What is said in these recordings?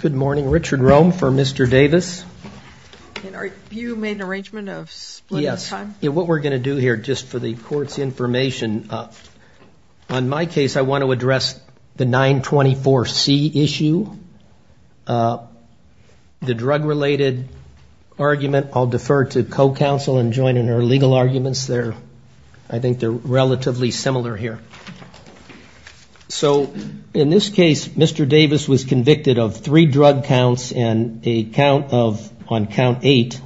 Good morning. Richard Rome for Mr. Davis. You made an arrangement of split time? Yes. What we're going to do here, just for the court's information, on my case I want to address the 924C issue, the drug-related argument. I'll defer to co-counsel and join in her legal arguments there. I think they're relatively similar here. In this case, Mr. Davis was convicted of three drug counts and on count eight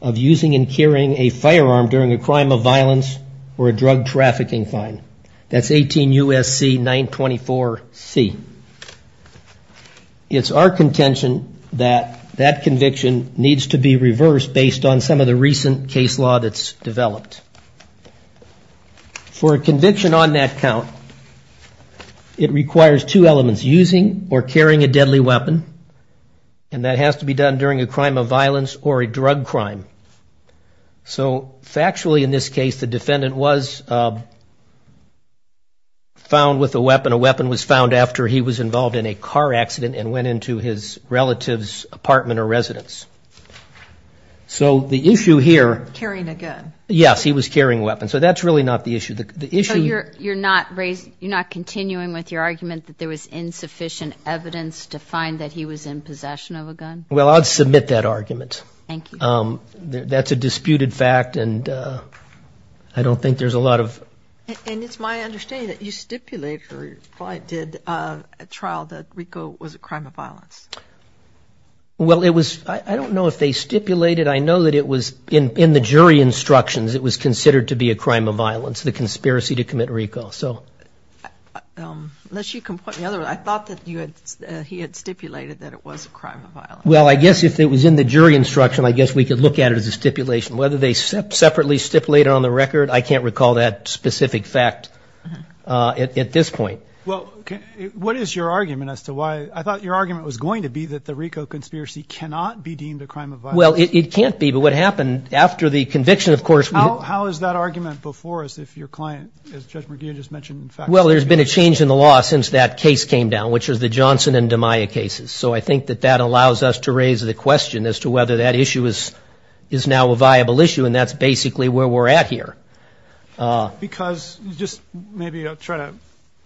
of using and carrying a firearm during a crime of violence or a drug trafficking fine. That's 18 U.S.C. 924C. It's our contention that that conviction needs to be reversed For a conviction on that count, it requires two elements, using or carrying a deadly weapon, and that has to be done during a crime of violence or a drug crime. So factually, in this case, the defendant was found with a weapon. A weapon was found after he was involved in a car accident and went into his relative's apartment or residence. So the issue here... Carrying a gun. Yes, he was carrying a weapon. So that's really not the issue. So you're not continuing with your argument that there was insufficient evidence to find that he was in possession of a gun? Well, I'd submit that argument. Thank you. That's a disputed fact, and I don't think there's a lot of... And it's my understanding that you stipulated or did a trial that Rico was a crime of violence. Well, it was... I don't know if they stipulated. I know that it was in the jury instructions, it was considered to be a crime of violence, the conspiracy to commit Rico, so... Unless you... I thought that he had stipulated that it was a crime of violence. Well, I guess if it was in the jury instruction, I guess we could look at it as a stipulation. Whether they separately stipulated on the record, I can't recall that specific fact at this point. Well, what is your argument as to why... I thought your argument was going to be that the Rico conspiracy cannot be deemed a crime of violence. Well, it can't be, but what happened after the conviction, of course... How is that argument before us if your client, as Judge McGeehan just mentioned, in fact... Well, there's been a change in the law since that case came down, which was the Johnson and DiMaio cases. So I think that that allows us to raise the question as to whether that issue is now a viable issue, and that's basically where we're at here. Because just maybe I'll try to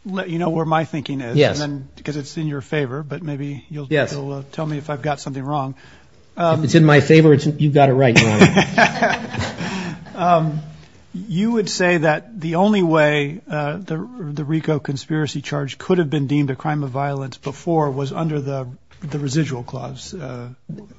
let you know where my thinking is. Yes. Because it's in your favor, but maybe you'll tell me if I've got something wrong. If it's in my favor, you've got it right. You would say that the only way the Rico conspiracy charge could have been deemed a crime of violence before was under the residual clause.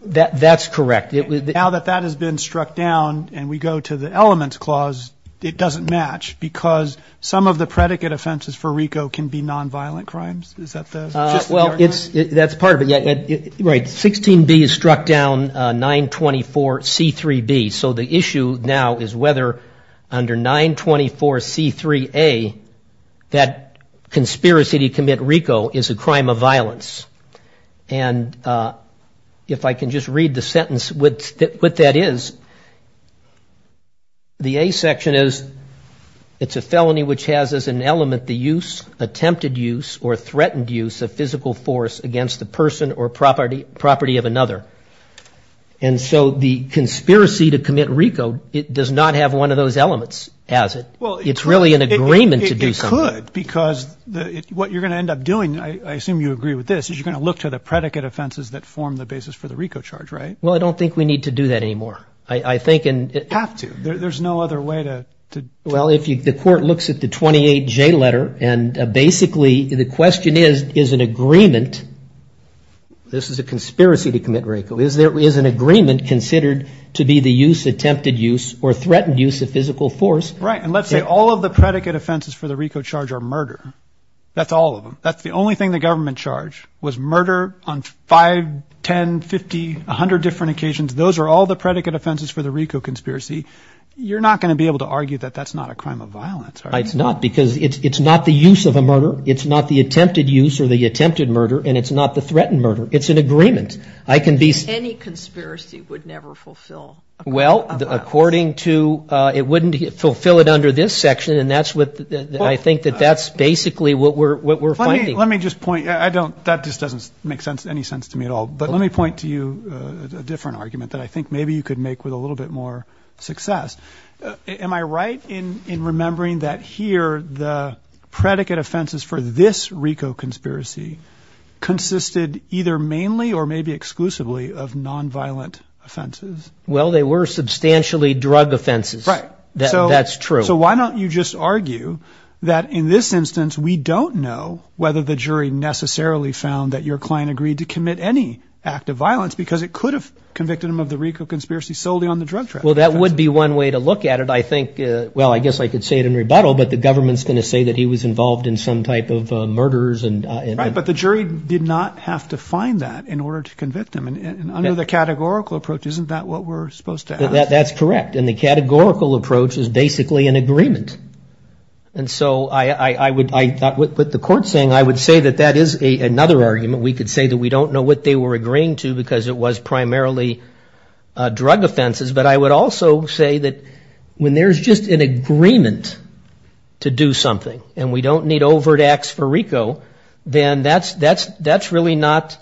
That's correct. Now that that has been struck down and we go to the elements clause, it doesn't match because some of the predicate offenses for Rico can be nonviolent crimes. Is that the... Well, that's part of it. Right. 16B is struck down, 924C3B. So the issue now is whether under 924C3A, that conspiracy to commit Rico is a crime of violence. And if I can just read the sentence, what that is, the A section is it's a felony which has as an element the use, attempted use, or threatened use of physical force against the person or property of another. And so the conspiracy to commit Rico, it does not have one of those elements as it. It's really an agreement to do something. It could because what you're going to end up doing, I assume you agree with this, is you're going to look to the predicate offenses that form the basis for the Rico charge, right? Well, I don't think we need to do that anymore. I think... You have to. There's no other way to... Well, if the court looks at the 28J letter, and basically the question is, is an agreement, this is a conspiracy to commit Rico, is an agreement considered to be the use, attempted use, or threatened use of physical force. Right. And let's say all of the predicate offenses for the Rico charge are murder. That's all of them. That's the only thing the government charged was murder on 5, 10, 50, 100 different occasions. Those are all the predicate offenses for the Rico conspiracy. You're not going to be able to argue that that's not a crime of violence, are you? It's not because it's not the use of a murder. It's not the attempted use or the attempted murder, and it's not the threatened murder. It's an agreement. I can be... Any conspiracy would never fulfill a crime of violence. Well, according to... It wouldn't fulfill it under this section, and that's what I think that that's basically what we're finding. Let me just point... I don't... That just doesn't make any sense to me at all. But let me point to you a different argument that I think maybe you could make with a little bit more success. Am I right in remembering that here the predicate offenses for this Rico conspiracy consisted either mainly or maybe exclusively of nonviolent offenses? Well, they were substantially drug offenses. Right. That's true. So why don't you just argue that in this instance we don't know whether the jury necessarily found that your client agreed to commit any act of violence because it could have convicted him of the Rico conspiracy solely on the drug traffic. Well, that would be one way to look at it. I think... Well, I guess I could say it in rebuttal, but the government's going to say that he was involved in some type of murders. Right, but the jury did not have to find that in order to convict him. And under the categorical approach, isn't that what we're supposed to have? That's correct. And the categorical approach is basically an agreement. And so I thought what the court's saying, I would say that that is another argument. We could say that we don't know what they were agreeing to because it was primarily drug offenses. But I would also say that when there's just an agreement to do something and we don't need overt acts for Rico, then that's really not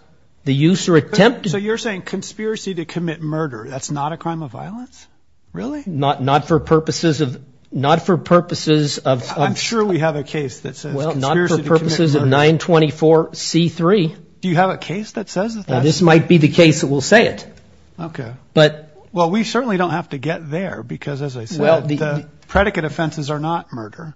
the use or attempt. So you're saying conspiracy to commit murder, that's not a crime of violence? Really? Not for purposes of... I'm sure we have a case that says conspiracy to commit murder. Well, not for purposes of 924C3. Do you have a case that says that? This might be the case that will say it. Okay. But... Well, we certainly don't have to get there because, as I said, the predicate offenses are not murder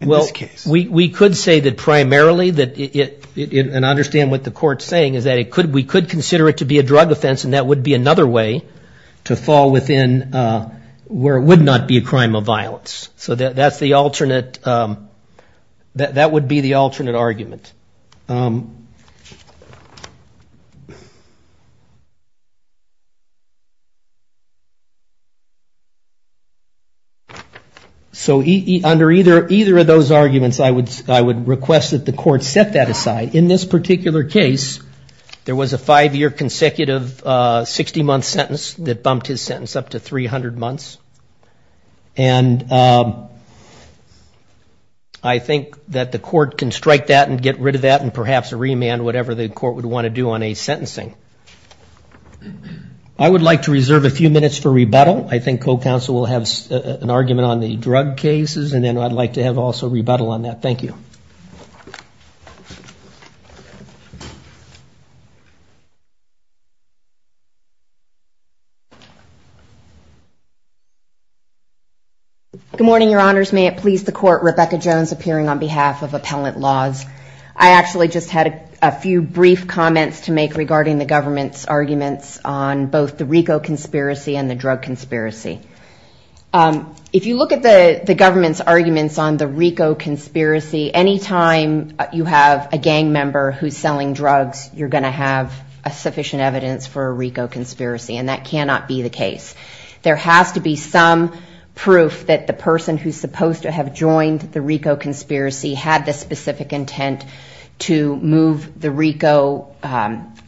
in this case. Well, we could say that primarily that it... And I understand what the court's saying is that we could consider it to be a drug offense and that would be another way to fall within where it would not be a crime of violence. So that would be the alternate argument. So under either of those arguments, I would request that the court set that aside. In this particular case, there was a five-year consecutive 60-month sentence that bumped his sentence up to 300 months. And I think that the court can strike that and get rid of that and perhaps remand whatever the court would want to do on a sentencing. I would like to reserve a few minutes for rebuttal. I think co-counsel will have an argument on the drug cases and then I'd like to have also rebuttal on that. Thank you. Good morning, Your Honors. May it please the court, Rebecca Jones appearing on behalf of Appellant Laws. I actually just had a few brief comments to make regarding the government's arguments on both the RICO conspiracy and the drug conspiracy. If you look at the government's arguments on the RICO conspiracy, any time you have a gang member who's selling drugs, you're going to have sufficient evidence for a RICO conspiracy and that cannot be the case. There has to be some proof that the person who's supposed to have joined the RICO conspiracy had the specific intent to move the RICO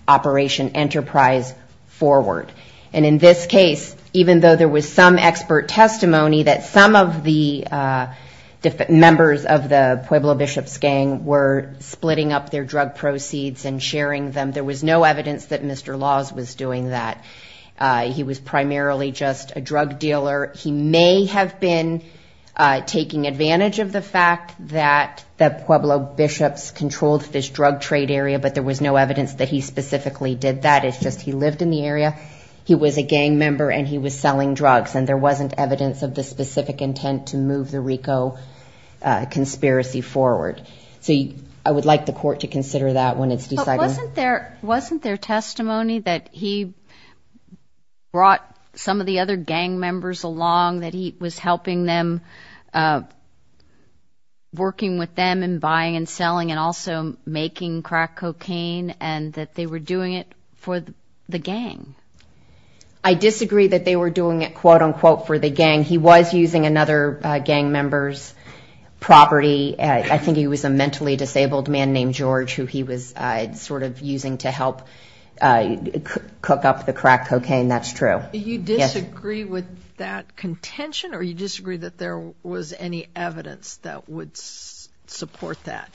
operation enterprise forward. And in this case, even though there was some expert testimony that some of the members of the Pueblo Bishops gang were splitting up their drug proceeds and sharing them, there was no evidence that Mr. Laws was doing that. He was primarily just a drug dealer. He may have been taking advantage of the fact that the Pueblo Bishops controlled this drug trade area, but there was no evidence that he specifically did that. It's just he lived in the area, he was a gang member and he was selling drugs and there wasn't evidence of the specific intent to move the RICO conspiracy forward. So I would like the court to consider that when it's decided. But wasn't there testimony that he brought some of the other gang members along, that he was helping them, working with them in buying and selling and also making crack cocaine and that they were doing it for the gang? I disagree that they were doing it, quote unquote, for the gang. He was using another gang member's property. I think he was a mentally disabled man named George who he was sort of using to help cook up the crack cocaine. That's true. You disagree with that contention or you disagree that there was any evidence that would support that?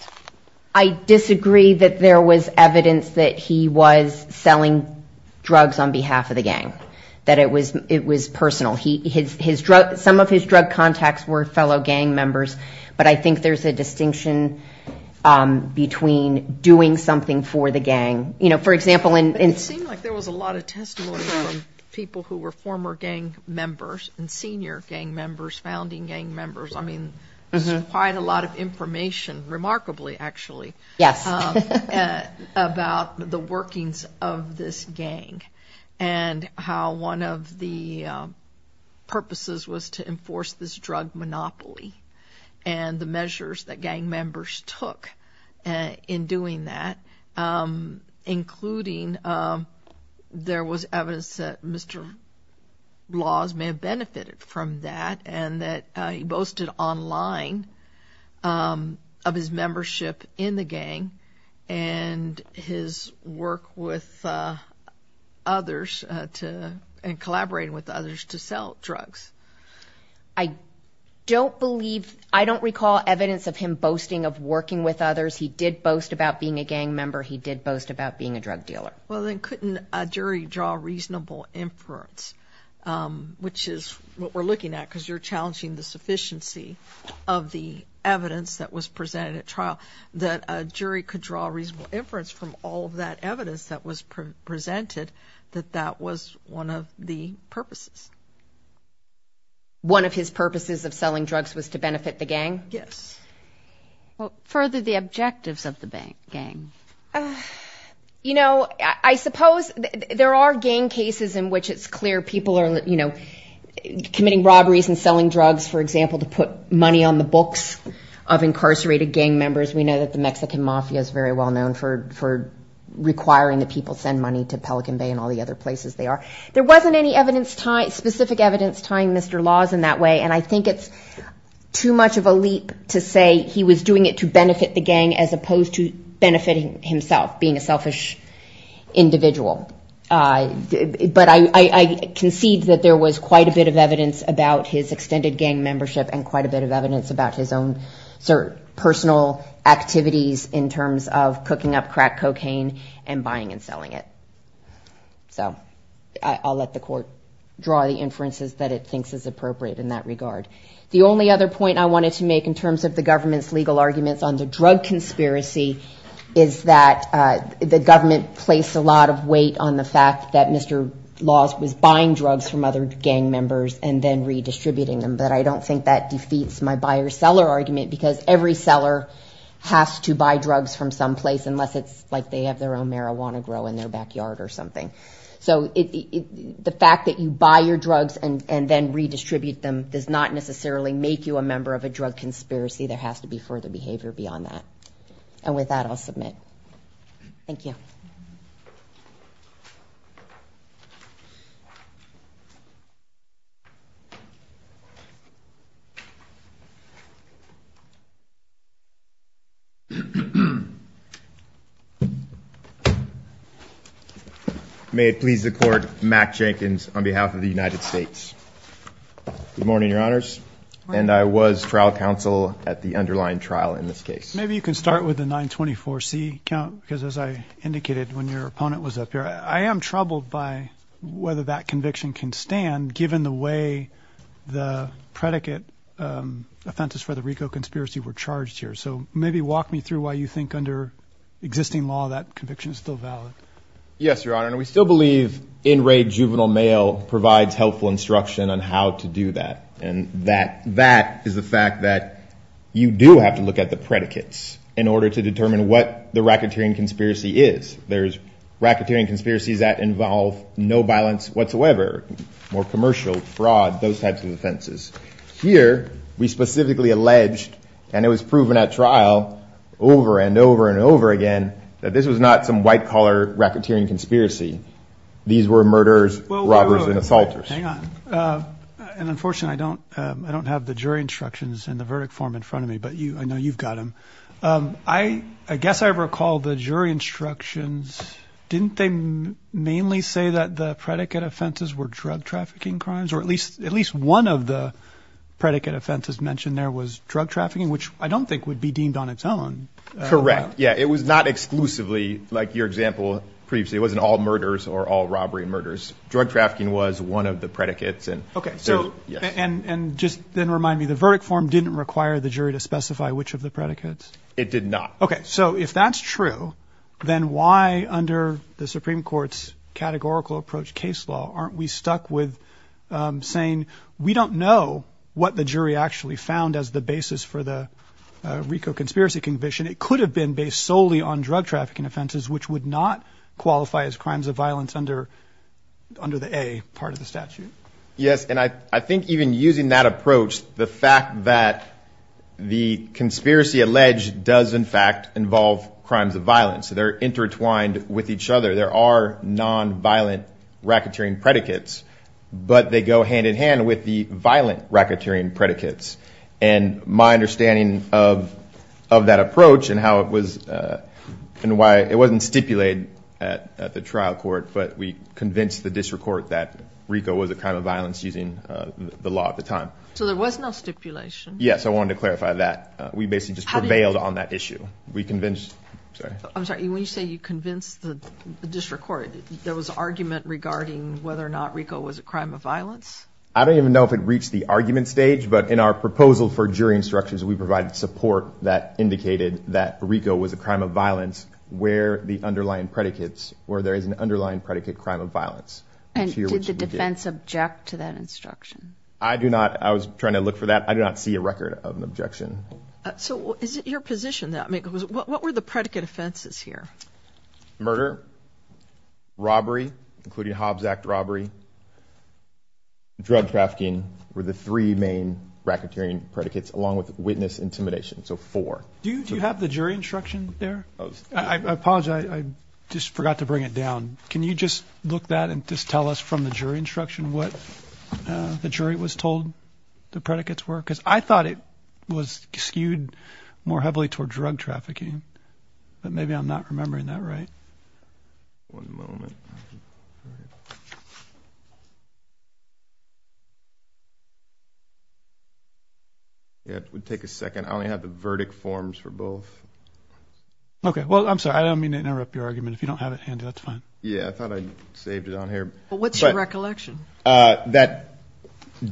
I disagree that there was evidence that he was selling drugs on behalf of the gang, that it was personal. Some of his drug contacts were fellow gang members, but I think there's a distinction between doing something for the gang. It seemed like there was a lot of testimony from people who were former gang members and senior gang members, founding gang members. I mean, there's quite a lot of information, remarkably actually, about the workings of this gang and how one of the purposes was to enforce this drug monopoly and the measures that gang members took in doing that. Including there was evidence that Mr. Laws may have benefited from that and that he boasted online of his membership in the gang and his work with others and collaborating with others to sell drugs. I don't believe, I don't recall evidence of him boasting of working with others. He did boast about being a gang member. He did boast about being a drug dealer. Well, then couldn't a jury draw reasonable inference, which is what we're looking at, because you're challenging the sufficiency of the evidence that was presented at trial, that a jury could draw reasonable inference from all of that evidence that was presented that that was one of the purposes. One of his purposes of selling drugs was to benefit the gang? Yes. Well, further the objectives of the gang. You know, I suppose there are gang cases in which it's clear people are, you know, there wasn't any specific evidence tying Mr. Laws in that way and I think it's too much of a leap to say he was doing it to benefit the gang as opposed to benefiting himself, being a selfish individual. But I concede that there was quite a bit of evidence about his extended gang membership and quite a bit of evidence about his own personal activities in terms of cooking up crack cocaine and buying and selling it. So I'll let the court draw the inferences that it thinks is appropriate in that regard. The only other point I wanted to make in terms of the government's legal arguments on the drug conspiracy is that the government placed a lot of weight on the fact that Mr. Laws was buying drugs from other gang members and then redistributing them, but I don't think that defeats my buyer-seller argument because every seller has to buy drugs from someplace unless it's like they have their own marijuana growing in their backyard or something. So the fact that you buy your drugs and then redistribute them does not necessarily make you a member of a drug conspiracy. There has to be further behavior beyond that. And with that, I'll submit. May it please the Court, Mack Jenkins on behalf of the United States. Good morning, Your Honors, and I was trial counsel at the underlying trial in this case. Maybe you can start with the 924C count because as I indicated when your opponent was up here, I am troubled by whether that conviction can stand given the way the predicate offenses for the RICO conspiracy were charged here. So maybe walk me through why you think under existing law that conviction is still valid. Yes, Your Honor, and we still believe in-rate juvenile mail provides helpful instruction on how to do that. And that is the fact that you do have to look at the predicates in order to determine what the racketeering conspiracy is. There's racketeering conspiracies that involve no violence whatsoever, more commercial fraud, those types of offenses. Here, we specifically alleged, and it was proven at trial over and over and over again, that this was not some white-collar racketeering conspiracy. These were murderers, robbers, and assaulters. Hang on. And unfortunately, I don't have the jury instructions in the verdict form in front of me, but I know you've got them. I guess I recall the jury instructions. Didn't they mainly say that the predicate offenses were drug trafficking crimes, or at least one of the predicate offenses mentioned there was drug trafficking, which I don't think would be deemed on its own. Correct. Yeah, it was not exclusively, like your example previously, it wasn't all murders or all robbery murders. Drug trafficking was one of the predicates. Okay. And just then remind me, the verdict form didn't require the jury to specify which of the predicates. It did not. Okay. So if that's true, then why, under the Supreme Court's categorical approach case law, aren't we stuck with saying we don't know what the jury actually found as the basis for the RICO conspiracy conviction? It could have been based solely on drug trafficking offenses, which would not qualify as crimes of violence under the A part of the statute. Yes. And I think even using that approach, the fact that the conspiracy alleged does, in fact, involve crimes of violence, they're intertwined with each other, there are nonviolent racketeering predicates, but they go hand in hand with the violent racketeering predicates. And my understanding of that approach and how it was, and why it wasn't stipulated at the trial court, but we convinced the district court that RICO was a crime of violence using the law at the time. So there was no stipulation? Yes. I wanted to clarify that. We basically just prevailed on that issue. I'm sorry, when you say you convinced the district court, there was argument regarding whether or not RICO was a crime of violence? I don't even know if it reached the argument stage, but in our proposal for jury instructions, we provided support that indicated that RICO was a crime of violence where the underlying predicates, where there is an underlying predicate crime of violence. And did the defense object to that instruction? I do not. I was trying to look for that. I do not see a record of an objection. So is it your position that what were the predicate offenses here? Murder, robbery, including Hobbs Act robbery. Drug trafficking were the three main racketeering predicates, along with witness intimidation. Do you have the jury instruction there? I apologize. I just forgot to bring it down. Can you just look that and just tell us from the jury instruction what the jury was told the predicates were? Because I thought it was skewed more heavily toward drug trafficking, but maybe I'm not remembering that right. One moment. It would take a second. I only have the verdict forms for both. Okay. Well, I'm sorry. I don't mean to interrupt your argument. If you don't have it handy, that's fine. Yeah, I thought I saved it on here. But what's your recollection? That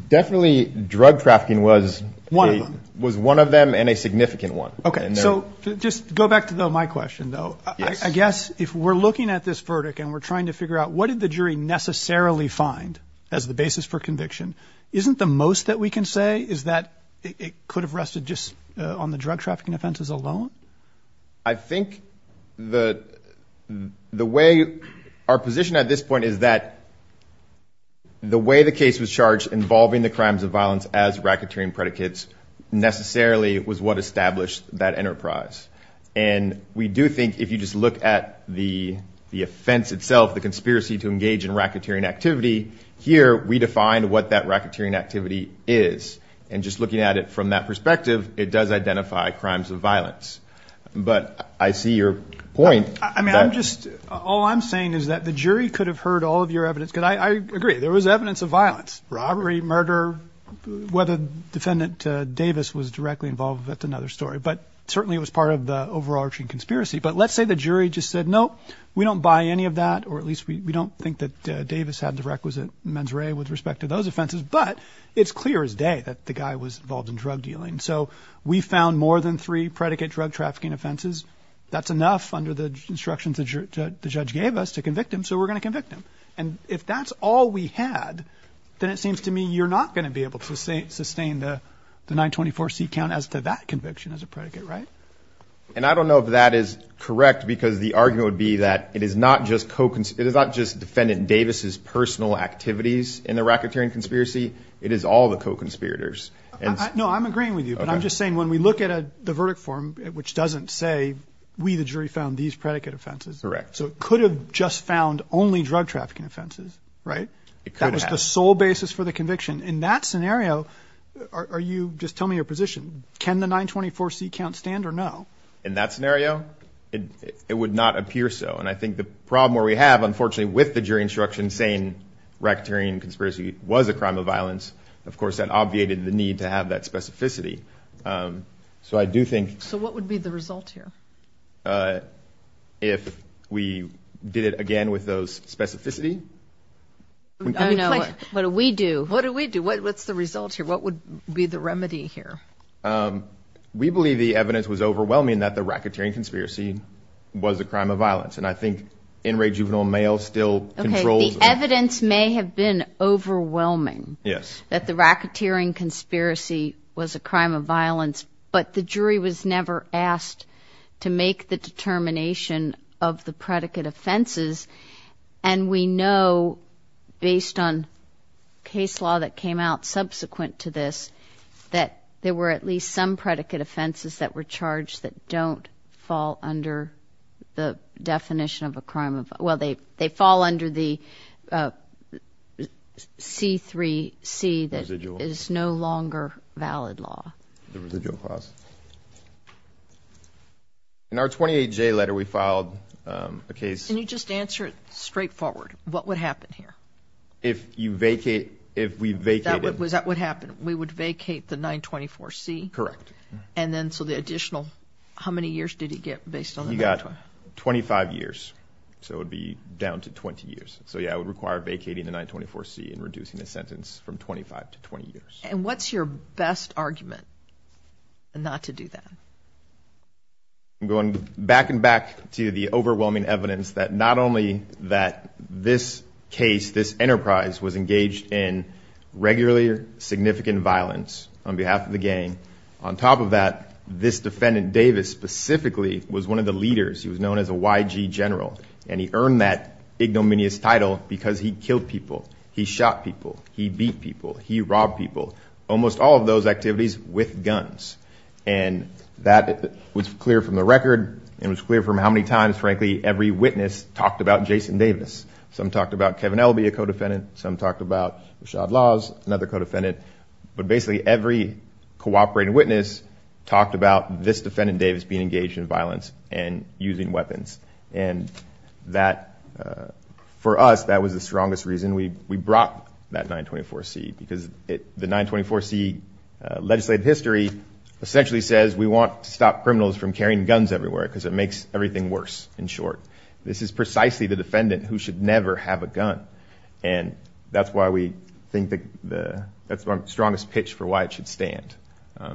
definitely drug trafficking was one of them and a significant one. Okay. So just go back to my question, though. I guess if we're looking at this verdict and we're trying to figure out what did the jury necessarily find as the basis for conviction, isn't the most that we can say is that it could have rested just on the drug trafficking offenses alone? I think the way our position at this point is that, you know, the way the case was charged involving the crimes of violence as racketeering predicates necessarily was what established that enterprise. And we do think if you just look at the offense itself, the conspiracy to engage in racketeering activity, here we define what that racketeering activity is. And just looking at it from that perspective, it does identify crimes of violence. But I see your point. I mean, I'm just all I'm saying is that the jury could have heard all of your evidence. Could I agree? There was evidence of violence, robbery, murder, whether Defendant Davis was directly involved. That's another story. But certainly it was part of the overarching conspiracy. But let's say the jury just said, no, we don't buy any of that. Or at least we don't think that Davis had the requisite mens rea with respect to those offenses. But it's clear as day that the guy was involved in drug dealing. So we found more than three predicate drug trafficking offenses. That's enough under the instructions that the judge gave us to convict him. So we're going to convict him. And if that's all we had, then it seems to me you're not going to be able to say sustain the nine twenty four seat count as to that conviction as a predicate. Right. And I don't know if that is correct, because the argument would be that it is not just Coke. It is not just Defendant Davis's personal activities in the racketeering conspiracy. It is all the conspirators. And no, I'm agreeing with you. But I'm just saying when we look at the verdict form, which doesn't say we the jury found these predicate offenses. Correct. So it could have just found only drug trafficking offenses. Right. That was the sole basis for the conviction in that scenario. Are you just tell me your position. Can the nine twenty four seat count stand or no. In that scenario, it would not appear so. And I think the problem where we have, unfortunately, with the jury instruction saying racketeering conspiracy was a crime of violence. Of course, that obviated the need to have that specificity. So I do think. So what would be the result here if we did it again with those specificity? I don't know. What do we do? What do we do? What's the result here? What would be the remedy here? We believe the evidence was overwhelming that the racketeering conspiracy was a crime of violence. And I think in rate juvenile mail still controls. The evidence may have been overwhelming. Yes. That the racketeering conspiracy was a crime of violence. But the jury was never asked to make the determination of the predicate offenses. And we know based on case law that came out subsequent to this, that there were at least some predicate offenses that were charged that don't fall under the definition of a crime. Well, they they fall under the C3 C that is no longer valid law. In our 28 J letter, we filed a case and you just answer it straightforward. What would happen here if you vacate if we vacate? Was that what happened? We would vacate the 924 C. Correct. And then so the additional how many years did he get based on that? About 25 years. So it would be down to 20 years. So, yeah, I would require vacating the 924 C and reducing the sentence from 25 to 20 years. And what's your best argument not to do that? Going back and back to the overwhelming evidence that not only that this case, this enterprise was engaged in regularly significant violence on behalf of the gang. On top of that, this defendant Davis specifically was one of the leaders. He was known as a YG general and he earned that ignominious title because he killed people. He shot people. He beat people. He robbed people. Almost all of those activities with guns. And that was clear from the record. It was clear from how many times, frankly, every witness talked about Jason Davis. Some talked about Kevin Elby, a co-defendant. Some talked about Rashad Laws, another co-defendant. But basically every cooperating witness talked about this defendant Davis being engaged in violence and using weapons. And that for us, that was the strongest reason we we brought that 924 C because the 924 C legislative history essentially says we want to stop criminals from carrying guns everywhere because it makes everything worse in short. This is precisely the defendant who should never have a gun. And that's why we think that that's our strongest pitch for why it should stand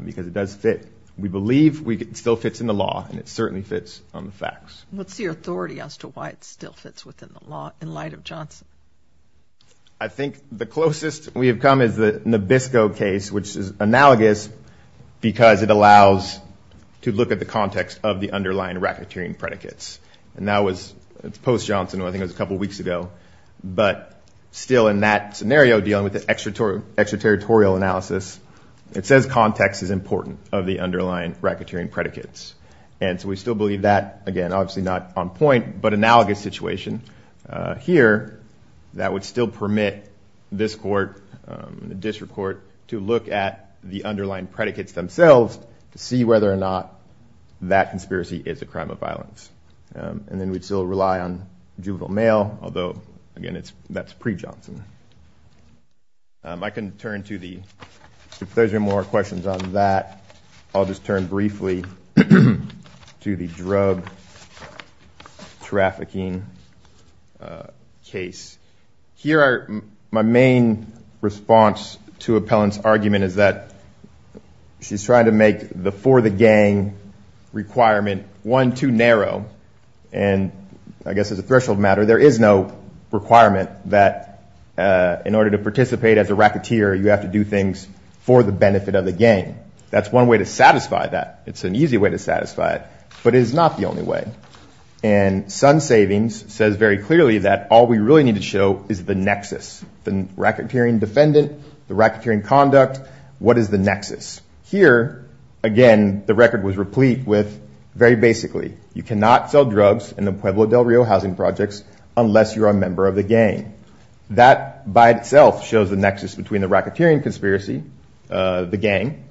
because it does fit. We believe it still fits in the law and it certainly fits on the facts. What's the authority as to why it still fits within the law in light of Johnson? I think the closest we have come is the Nabisco case, which is analogous, because it allows to look at the context of the underlying racketeering predicates. And that was post-Johnson. I think it was a couple of weeks ago. But still in that scenario dealing with the extraterritorial analysis, it says context is important of the underlying racketeering predicates. And so we still believe that again, obviously not on point, but analogous situation here that would still permit this court and the district court to look at the underlying predicates themselves to see whether or not that conspiracy is a crime of violence. And then we'd still rely on juvenile mail, although again, it's that's pre-Johnson. I can turn to the if there's any more questions on that. I'll just turn briefly to the drug trafficking case. Here are my main response to appellant's argument is that she's trying to make the for the gang requirement one too narrow. And I guess as a threshold matter, there is no requirement that in order to participate as a racketeer, you have to do things for the benefit of the gang. That's one way to satisfy that. It's an easy way to satisfy it, but it is not the only way. And Sun Savings says very clearly that all we really need to show is the nexus, the racketeering defendant, the racketeering conduct. What is the nexus here? Again, the record was replete with very basically you cannot sell drugs in the Pueblo del Rio housing projects unless you're a member of the gang. That by itself shows the nexus between the racketeering conspiracy, the gang,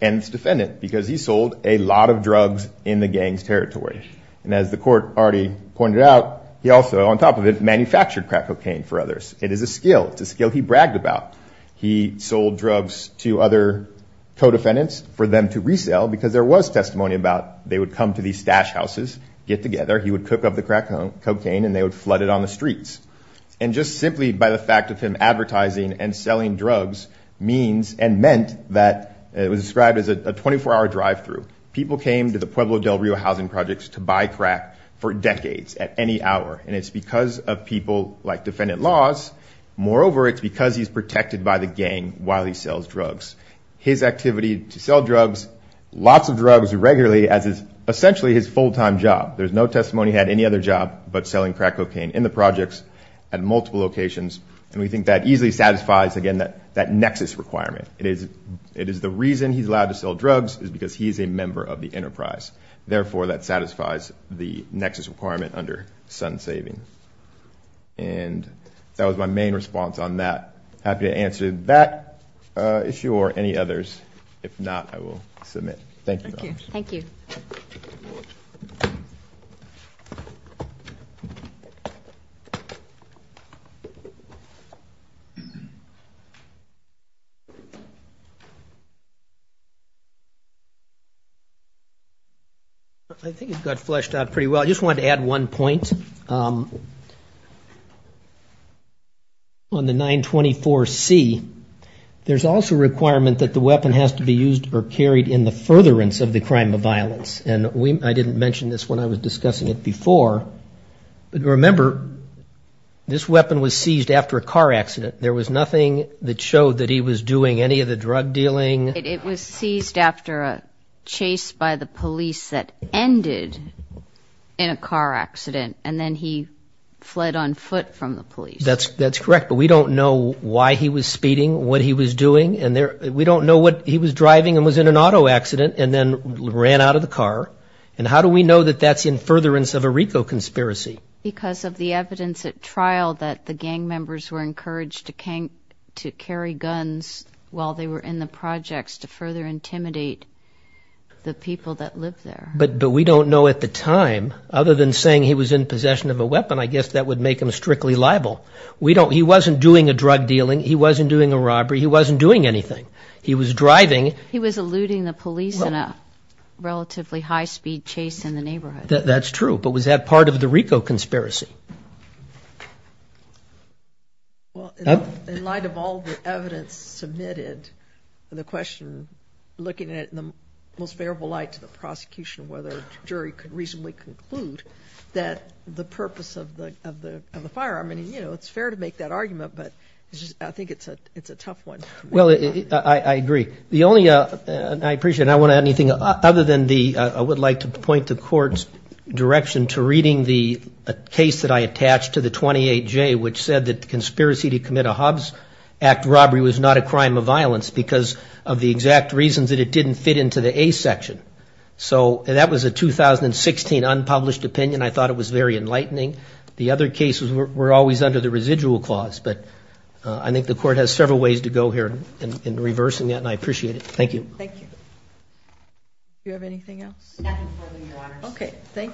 and its defendant because he sold a lot of drugs in the gang's territory. And as the court already pointed out, he also on top of it manufactured crack cocaine for others. It is a skill. It's a skill he bragged about. He sold drugs to other co-defendants for them to resell because there was testimony about they would come to these stash houses, get together, he would cook up the crack cocaine and they would flood it on the streets. And just simply by the fact of him advertising and selling drugs means and meant that it was described as a 24-hour drive-through. People came to the Pueblo del Rio housing projects to buy crack for decades at any hour. And it's because of people like defendant laws. Moreover, it's because he's protected by the gang while he sells drugs. His activity to sell drugs, lots of drugs regularly as is essentially his full-time job. There's no testimony he had any other job but selling crack cocaine in the projects at multiple locations. And we think that easily satisfies, again, that nexus requirement. It is the reason he's allowed to sell drugs is because he's a member of the enterprise. Therefore, that satisfies the nexus requirement under sun saving. And that was my main response on that. Happy to answer that issue or any others. If not, I will submit. Thank you. I think it got fleshed out pretty well. I just wanted to add one point. On the 924C, there's also a requirement that the weapon has to be used or carried in the first place. It's a furtherance of the crime of violence. And I didn't mention this when I was discussing it before. But remember, this weapon was seized after a car accident. There was nothing that showed that he was doing any of the drug dealing. It was seized after a chase by the police that ended in a car accident and then he fled on foot from the police. That's correct, but we don't know why he was speeding, what he was doing. We don't know what he was driving and was in an auto accident and then ran out of the car. And how do we know that that's in furtherance of a RICO conspiracy? Because of the evidence at trial that the gang members were encouraged to carry guns while they were in the projects to further intimidate the people that lived there. But we don't know at the time, other than saying he was in possession of a weapon, I guess that would make him strictly liable. He wasn't doing a drug dealing. He wasn't doing a robbery. He wasn't doing anything. He was driving. He was eluding the police in a relatively high-speed chase in the neighborhood. That's true, but was that part of the RICO conspiracy? Well, in light of all the evidence submitted and the question, looking at it in the most favorable light to the prosecution, whether a jury could reasonably conclude that the purpose of the firearm, I mean, you know, it's fair to make that argument, but I think it's a tough one. Well, I agree. I would like to point the court's direction to reading the case that I attached to the 28J, which said that the conspiracy to commit a Hobbs Act robbery was not a crime of violence because of the exact reasons that it didn't fit into the A section. So that was a 2016 unpublished opinion. I thought it was very enlightening. The other cases were always under the residual clause, but I think the court has several ways to go here in reversing that, and I appreciate it. Thank you. Thank you very much.